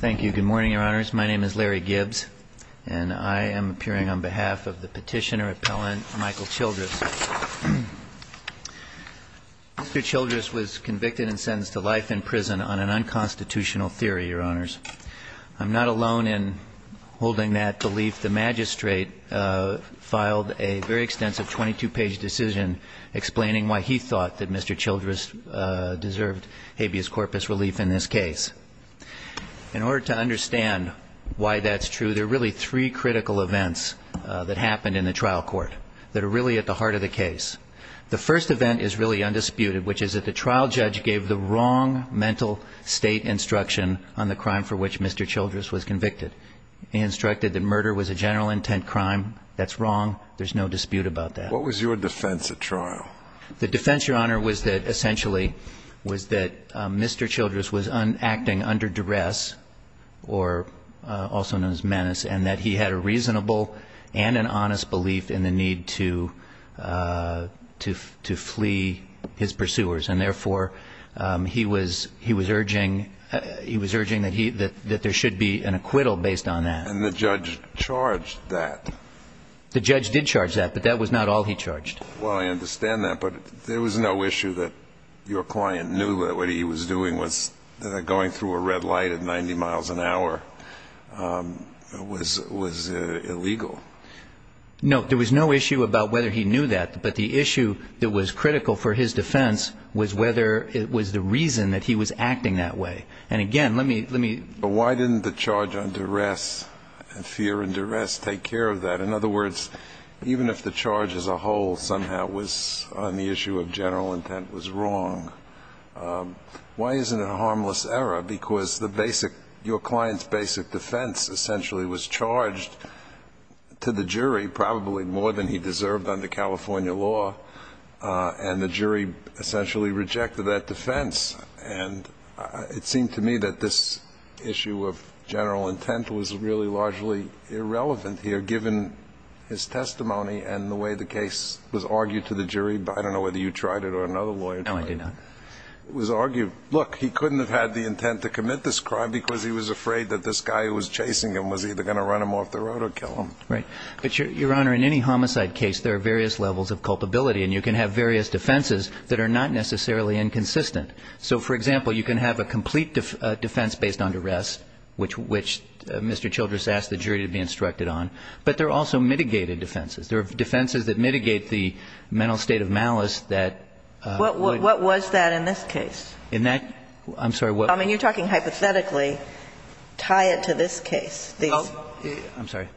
Thank you. Good morning, Your Honors. My name is Larry Gibbs, and I am appearing on behalf of the petitioner-appellant Michael Childress. Mr. Childress was convicted and sentenced to life in prison on an unconstitutional theory, Your Honors. I'm not alone in holding that belief. The magistrate filed a very extensive 22-page decision explaining why he thought that Mr. Childress deserved habeas corpus relief in this case. In order to understand why that's true, there are really three critical events that happened in the trial court that are really at the heart of the case. The first event is really undisputed, which is that the trial judge gave the wrong mental state instruction on the crime for which Mr. Childress was convicted. He instructed that murder was a general-intent crime. That's wrong. There's no dispute about that. What was your defense at trial? The defense, Your Honor, was that essentially was that Mr. Childress was acting under duress or also known as menace, and that he had a reasonable and an honest belief in the need to flee his pursuers. And therefore, he was urging that there should be an acquittal based on that. And the judge charged that? The judge did charge that, but that was not all he charged. Well, I understand that, but there was no issue that your client knew that what he was doing was going through a red light at 90 miles an hour was illegal. No, there was no issue about whether he knew that, but the issue that was critical for his defense was whether it was the reason that he was acting that way. And again, let me – But why didn't the charge on duress and fear and duress take care of that? In other words, even if the charge as a whole somehow was on the issue of general intent was wrong, why isn't it a harmless error? Because the basic – your client's basic defense essentially was charged to the jury, probably more than he deserved under California law, and the issue of general intent was really largely irrelevant here, given his testimony and the way the case was argued to the jury. I don't know whether you tried it or another lawyer tried it. No, I did not. It was argued – look, he couldn't have had the intent to commit this crime because he was afraid that this guy who was chasing him was either going to run him off the road or kill him. Right. But, Your Honor, in any homicide case, there are various levels of culpability, and you can have various defenses that are not necessarily inconsistent. So, for example, you can have a complete defense based on duress, which Mr. Childress asked the jury to be instructed on, but there are also mitigated defenses. There are defenses that mitigate the mental state of malice that would – What was that in this case? In that – I'm sorry, what – I mean, you're talking hypothetically. Tie it to this case. I'm sorry.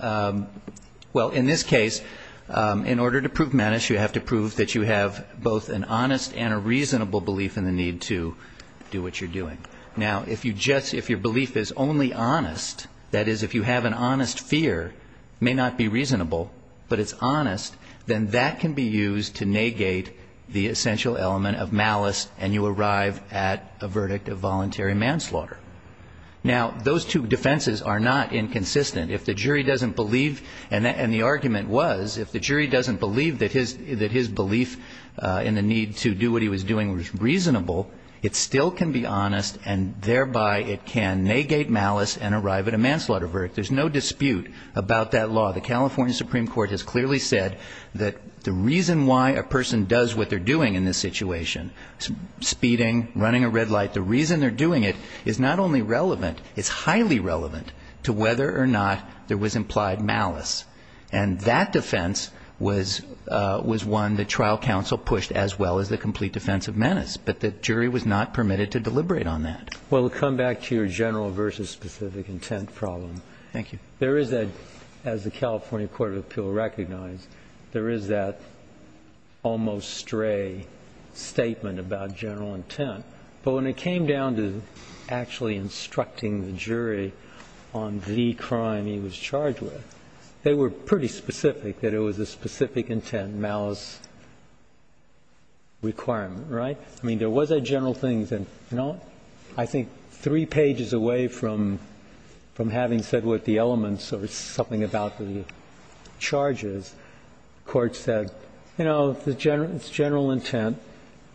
Well, in this case, in order to prove menace, you have to prove that you have both an honest and a reasonable belief in the need to do what you're doing. Now, if you just – if your belief is only honest, that is, if you have an honest fear may not be reasonable, but it's honest, then that can be used to negate the essential element of malice, and you arrive at a verdict of voluntary manslaughter. Now, those two defenses are not inconsistent. If the jury doesn't believe – and the need to do what he was doing was reasonable, it still can be honest, and thereby it can negate malice and arrive at a manslaughter verdict. There's no dispute about that law. The California Supreme Court has clearly said that the reason why a person does what they're doing in this situation – speeding, running a red light – the reason they're doing it is not only relevant, it's highly relevant to whether or not there was implied malice. And that defense was one that trial counsel pushed as well as the complete defense of menace, but the jury was not permitted to deliberate on that. Well, to come back to your general versus specific intent problem, there is a – as the California Court of Appeal recognized, there is that almost stray statement about general intent, but when it came down to actually instructing the jury on the crime he was charged with, they were pretty specific, that it was a specific intent, malice requirement, right? I mean, there was a general thing that, you know, I think three pages away from having said what the elements or something about the charges, the Court said, you know, it's general intent,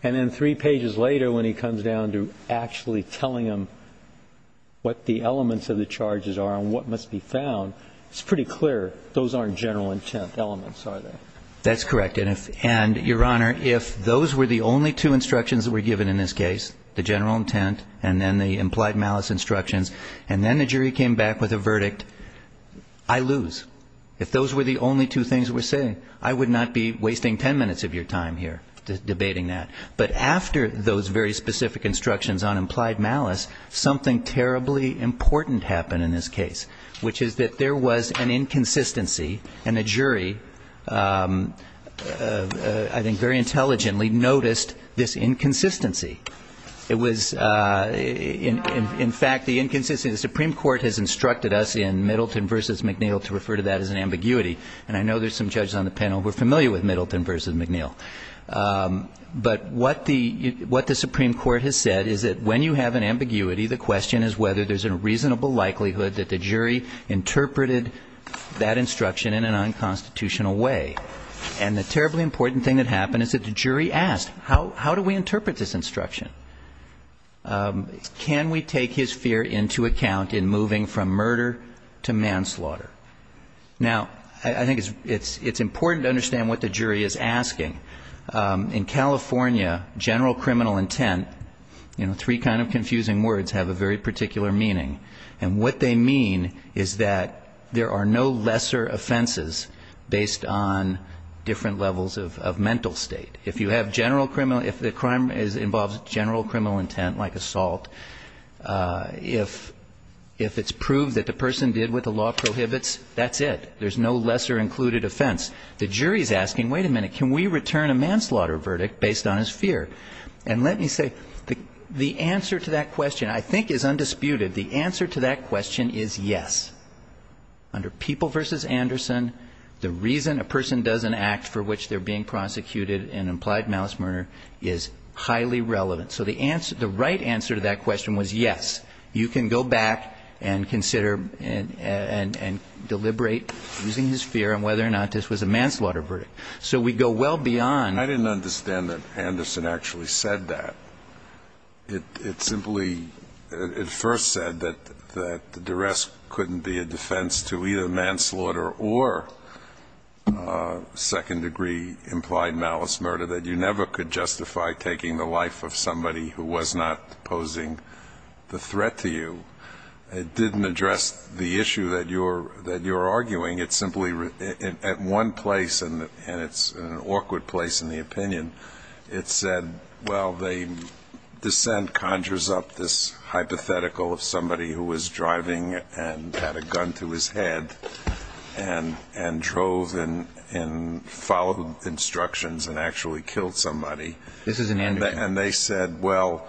and then three pages later, when he comes down to actually telling him what the elements of the charges are and what must be found, it's pretty clear those aren't general intent elements, are they? That's correct. And if – and, Your Honor, if those were the only two instructions that were given in this case, the general intent and then the implied malice instructions, and then the jury came back with a verdict, I lose. If those were the only two things we're saying, I would not be wasting ten minutes of your time here debating that. But after those very specific instructions on implied malice, something terribly important happened in this case, which is that there was an inconsistency, and the jury, I think very intelligently, noticed this inconsistency. It was – in fact, the inconsistency – the Supreme Court has instructed us in Middleton v. McNeil to refer to that as an ambiguity, and I know there's some judges on the panel who are familiar with Middleton v. McNeil. But what the – what the Supreme Court has said is that when you have an ambiguity, the question is whether there's a reasonable likelihood that the jury interpreted that instruction in an unconstitutional way. And the terribly important thing that happened is that the jury asked, how do we interpret this instruction? Can we take his fear into account in moving from murder to manslaughter? Now, I think it's – it's important to understand what the jury is asking. In California, general criminal intent – you know, three kind of confusing words have a very particular meaning. And what they mean is that there are no lesser offenses based on different levels of mental state. If you have general criminal – if the crime involves general criminal intent, like assault, if it's proved that the law prohibits, that's it. There's no lesser included offense. The jury is asking, wait a minute, can we return a manslaughter verdict based on his fear? And let me say, the answer to that question I think is undisputed. The answer to that question is yes. Under People v. Anderson, the reason a person doesn't act for which they're being prosecuted in implied malice murder is highly relevant. So the right answer to that question was yes. You can go back and consider and deliberate using his fear and whether or not this was a manslaughter verdict. So we go well beyond – I didn't understand that Anderson actually said that. It simply – it first said that the duress couldn't be a defense to either manslaughter or second degree implied malice murder, that you never could justify taking the life of somebody who was not posing the threat to you. It didn't address the issue that you're arguing. It simply – at one place, and it's an awkward place in the opinion, it said, well, the dissent conjures up this hypothetical of somebody who was driving and had a gun to his head and drove and followed instructions and actually killed somebody. This is in Anderson. And they said, well,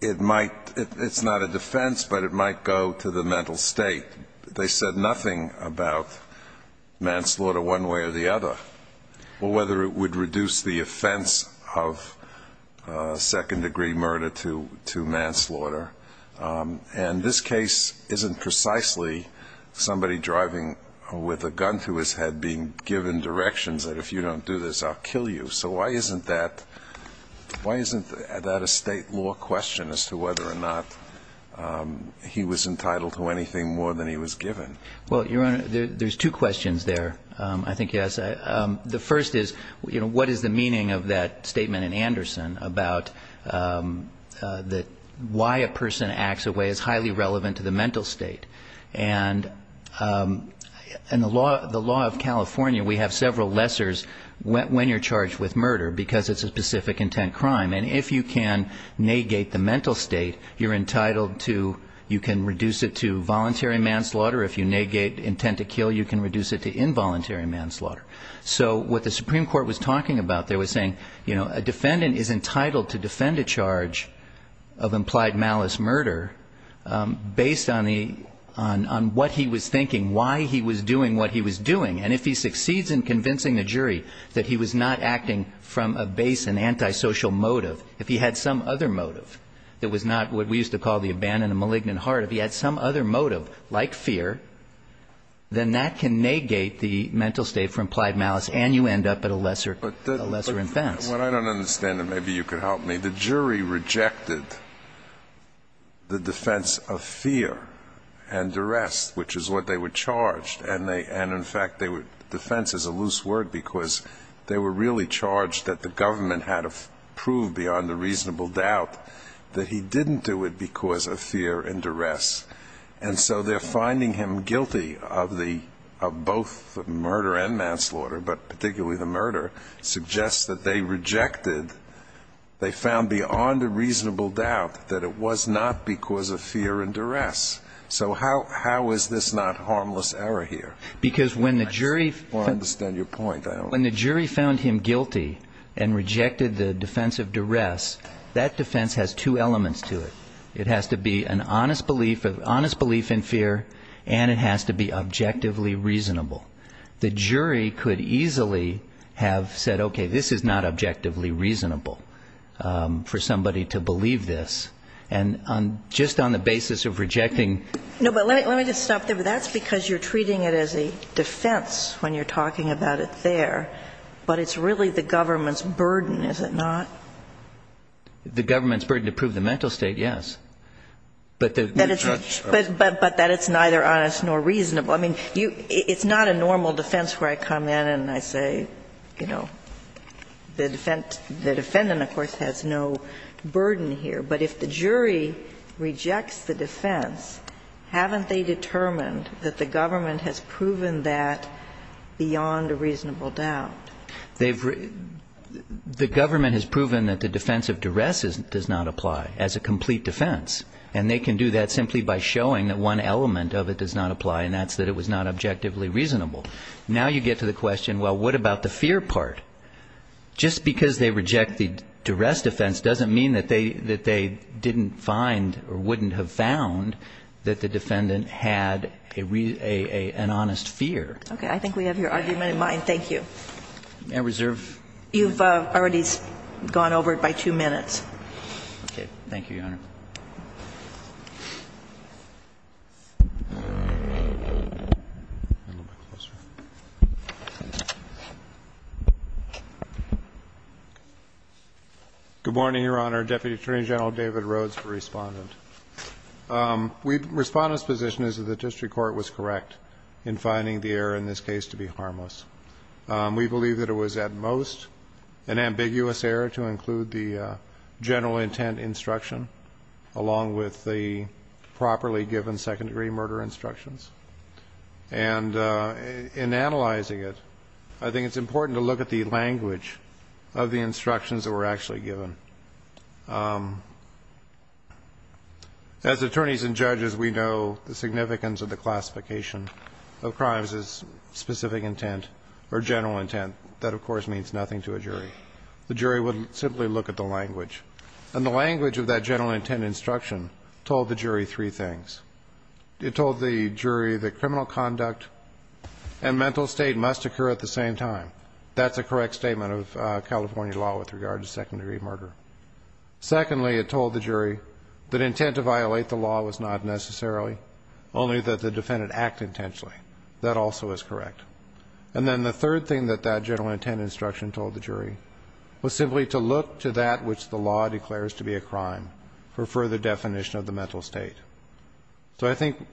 it might – it's not a defense, but it might go to the mental state. They said nothing about manslaughter one way or the other or whether it would reduce the offense of second degree murder to manslaughter. And this case isn't precisely somebody driving with a gun to his head being given directions that if you don't do this, I'll kill you. So why isn't that – why isn't that a state law question as to whether or not he was entitled to anything more than he was given? Well, Your Honor, there's two questions there, I think, yes. The first is, you know, what is the meaning of that statement in Anderson about that why a person acts a way as highly relevant to the mental state? And the law of California, we have several lessors when you're charged with murder because it's a specific intent crime. And if you can negate the mental state, you're entitled to – you can reduce it to voluntary manslaughter. If you negate intent to kill, you can reduce it to involuntary manslaughter. So what the Supreme Court was talking about there was saying, you know, a defendant is entitled to defend a charge of implied malice murder based on the – on what he was thinking, why he was doing what he was doing. And if he succeeds in convincing the jury that he was not acting from a base and antisocial motive, if he had some other motive that was not what we used to call the abandoned and malignant heart, if he had some other motive, like fear, then that can negate the mental state for implied malice and you end up at a lesser – a lesser offense. Well, what I don't understand, and maybe you could help me, the jury rejected the defense of fear and duress, which is what they were charged. And they – and in fact, they were – defense is a loose word because they were really charged that the government had to prove beyond a reasonable doubt that he didn't do it because of fear and duress. And so they're finding him guilty of the – of both murder and manslaughter, but particularly the murder, suggests that they rejected – they found beyond a reasonable doubt that it was not because of fear and duress. So how – how is this not harmless error here? Because when the jury – I don't understand your point. I don't – When the jury found him guilty and rejected the defense of duress, that defense has two elements to it. It has to be an honest belief – an honest belief in fear and it has to be objectively reasonable. The jury could easily have said, okay, this is not objectively reasonable for somebody to believe this. And on – just on the basis of rejecting – No, but let me – let me just stop there. But that's because you're treating it as a defense when you're talking about it there. But it's really the government's burden, is it not? The government's burden to prove the mental state, yes. But the – But that it's neither honest nor reasonable. I mean, you – it's not a normal defense where I come in and I say, you know, the defendant – the defendant, of course, has no burden here. But if the jury rejects the defense, haven't they determined that the government has proven that beyond a reasonable doubt? They've – the government has proven that the defense of duress does not apply as a complete defense. And they can do that simply by showing that one element of it does not apply and that's that it was not objectively reasonable. Now you get to the question, well, what about the fear part? Just because they reject the duress defense doesn't mean that they – that they didn't find or wouldn't have found that the defendant had a – an honest fear. Okay. I think we have your argument in mind. Thank you. I reserve – You've already gone over it by two minutes. Okay. Thank you, Your Honor. Good morning, Your Honor. Deputy Attorney General David Rhodes for Respondent. We – Respondent's position is that the district court was correct in finding the error in this case to be harmless. We believe that it was at most an ambiguous error to include the general intent instruction along with the properly given second-degree murder instructions. And in analyzing it, I think it's important to look at the language of the instructions that were actually given. As attorneys and judges, we know the significance of the classification of crimes as specific intent or general intent. That, of course, means nothing to a jury. The jury would simply look at the language. And the language of that general intent instruction told the jury three things. It told the jury that criminal conduct and mental state must occur at the same time. That's a correct statement of California law with regard to second-degree murder. Secondly, it told the jury that intent to violate the law was not necessarily, only that the defendant acted intentionally. That also is correct. And then the third thing that that general intent instruction told the jury was simply to look to that which the law declares to be a crime for further definition of the mental state. So I think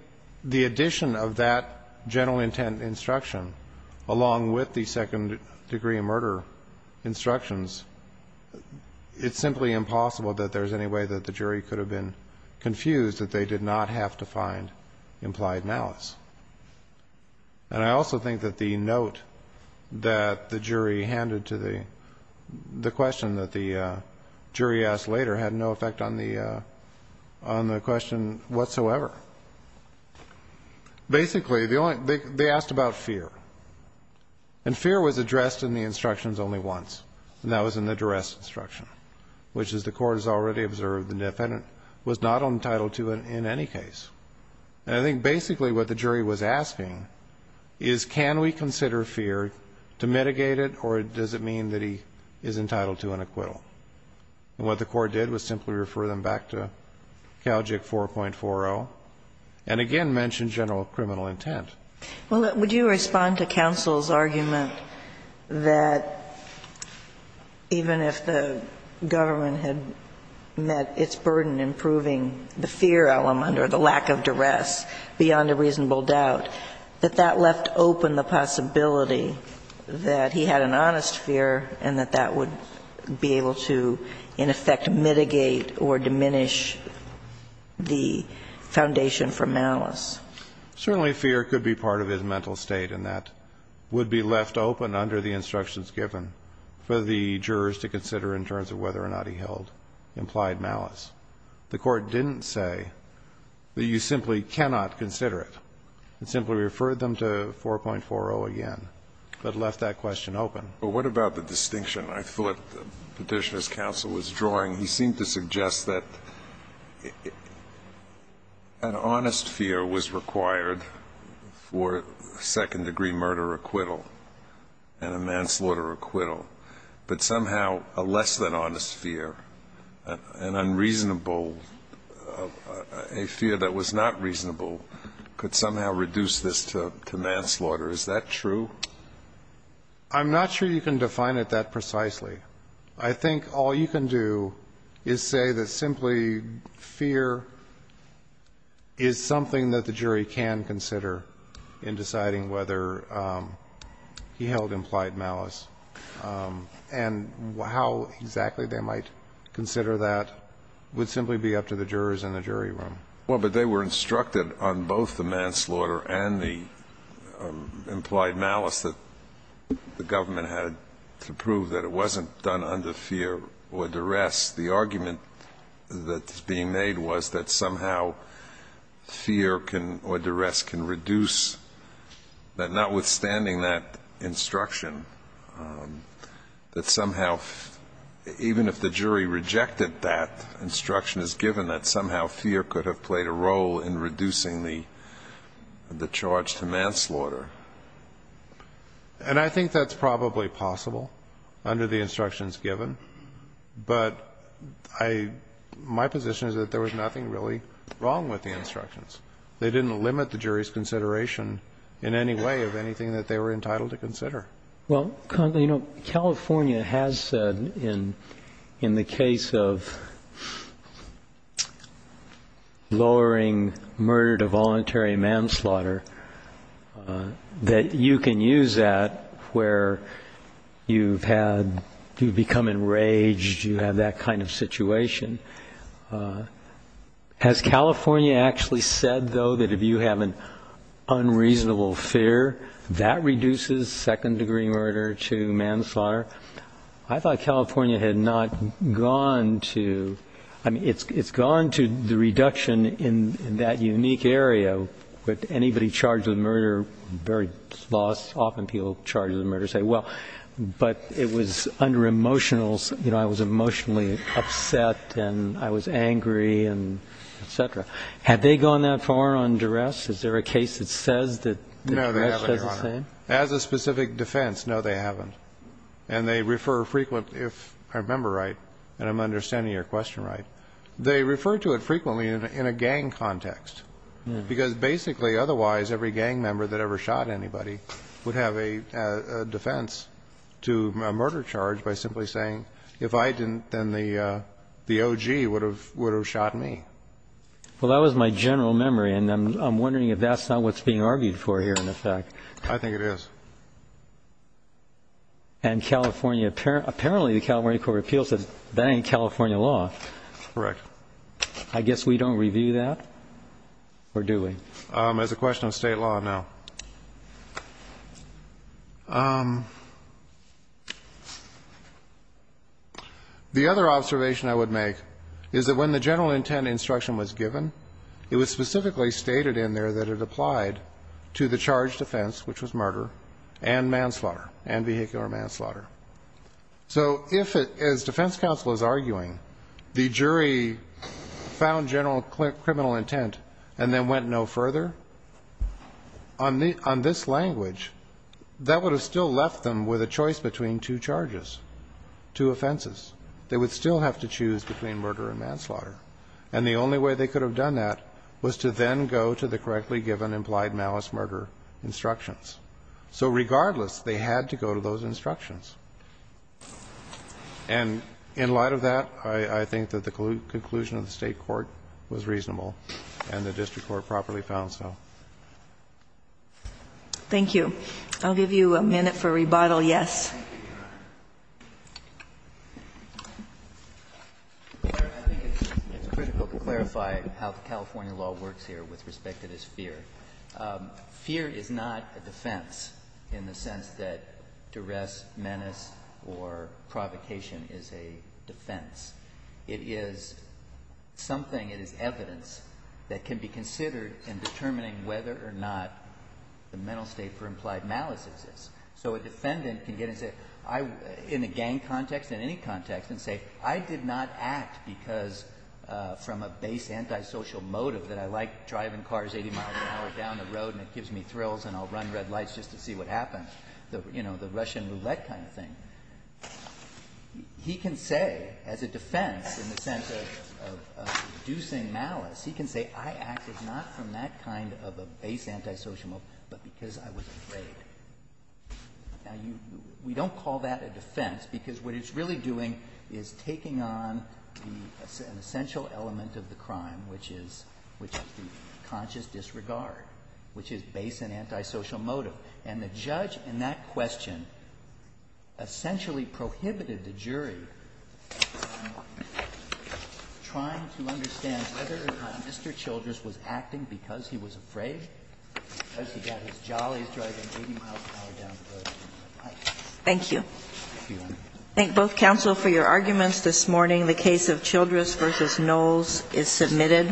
the addition of that general intent instruction along with the second-degree murder instructions, it's simply impossible that there's any way that the jury could have been able to find implied malice. And I also think that the note that the jury handed to the question that the jury asked later had no effect on the question whatsoever. Basically, they asked about fear. And fear was addressed in the instructions only once, and that was in the duress instruction, which, as the court has already observed, the defendant was not entitled to in any case. And I think basically what the jury was asking is can we consider fear to mitigate it or does it mean that he is entitled to an acquittal? And what the court did was simply refer them back to CALJIC 4.40 and again mention general criminal intent. Well, would you respond to counsel's argument that even if the government had met its burden in proving the fear element or the lack of duress beyond a reasonable doubt, that that left open the possibility that he had an honest fear and that that would be able to, in effect, mitigate or diminish the foundation for malice? Certainly fear could be part of his mental state and that would be left open under the instructions given for the jurors to consider in terms of whether or not he held implied malice. The court didn't say that you simply cannot consider it. It simply referred them to 4.40 again but left that question open. But what about the distinction I thought Petitioner's counsel was drawing? He seemed to suggest that an honest fear was required for second-degree murder acquittal and a manslaughter acquittal, but somehow a less-than-honest fear, an unreasonable... a fear that was not reasonable could somehow reduce this to manslaughter. Is that true? I'm not sure you can define it that precisely. I think all you can do is say that simply fear is something that the jury can consider in deciding whether he held implied malice. And how exactly they might consider that would simply be up to the jurors in the jury room. Well, but they were instructed on both the manslaughter and the implied malice that the government had to prove that it wasn't done under fear or duress. The argument that's being made was that somehow fear or duress can reduce that, notwithstanding that instruction, that somehow even if the jury rejected that instruction as given, that somehow fear could have played a role in reducing the charge to manslaughter. And I think that's probably possible under the instructions given. But my position is that there was nothing really wrong with the instructions. They didn't limit the jury's consideration in any way of anything that they were entitled to consider. Well, you know, California has said in the case of lowering murder to voluntary manslaughter that you can use that where you've become enraged, you have that kind of situation. Has California actually said, though, that if you have an unreasonable fear, that reduces second-degree murder to manslaughter? I thought California had not gone to... I mean, it's gone to the reduction in that unique area that anybody charged with murder very often people charged with murder say, well, but it was under emotional... You know, I was emotionally upset and I was angry and et cetera. Had they gone that far on duress? Is there a case that says that... No, they haven't, Your Honor. As a specific defense, no, they haven't. And they refer frequently... If I remember right, and I'm understanding your question right, they refer to it frequently in a gang context. Because basically, otherwise, every gang member that ever shot anybody would have a defense to a murder charge by simply saying, if I didn't, then the OG would have shot me. Well, that was my general memory, and I'm wondering if that's not what's being argued for here, in effect. I think it is. And California... Apparently, the California Court of Appeals says that ain't California law. Correct. I guess we don't review that, or do we? As a question of state law, no. The other observation I would make is that when the general intent instruction was given, it was specifically stated in there that it applied to the charged offense, which was murder, and manslaughter, and vehicular manslaughter. So if, as defense counsel is arguing, the jury found general criminal intent and then went no further, on this language, that would have still left them with a choice between two charges, two offenses. They would still have to choose between murder and manslaughter. And the only way they could have done that was to then go to the correctly given implied malice-murder instructions. So regardless, they had to go to those instructions. And in light of that, I think that the conclusion of the state court was reasonable, and the district court properly found so. Thank you. I'll give you a minute for rebuttal. Yes. I think it's critical to clarify how the California law works here with respect to this fear. Fear is not a defense in the sense that duress, menace, or provocation is a defense. It is something, it is evidence that can be considered in determining whether or not the mental state for implied malice exists. So a defendant can get and say, in a gang context, in any context, and say, I did not act because from a base antisocial motive that I like driving cars 80 miles an hour down the road and it gives me thrills and I'll run red lights just to see what happens. You know, the Russian roulette kind of thing. He can say, as a defense, in the sense of reducing malice, he can say, I acted not from that kind of a base antisocial motive but because I was afraid. We don't call that a defense because what it's really doing is taking on an essential element of the crime, which is the conscious disregard, And the judge in that question essentially prohibited the jury from trying to understand whether or not Mr. Childress was acting because he was afraid because he got his jollies driving 80 miles an hour down the road. Thank you. I thank both counsel for your arguments this morning. The case of Childress v. Knowles is submitted.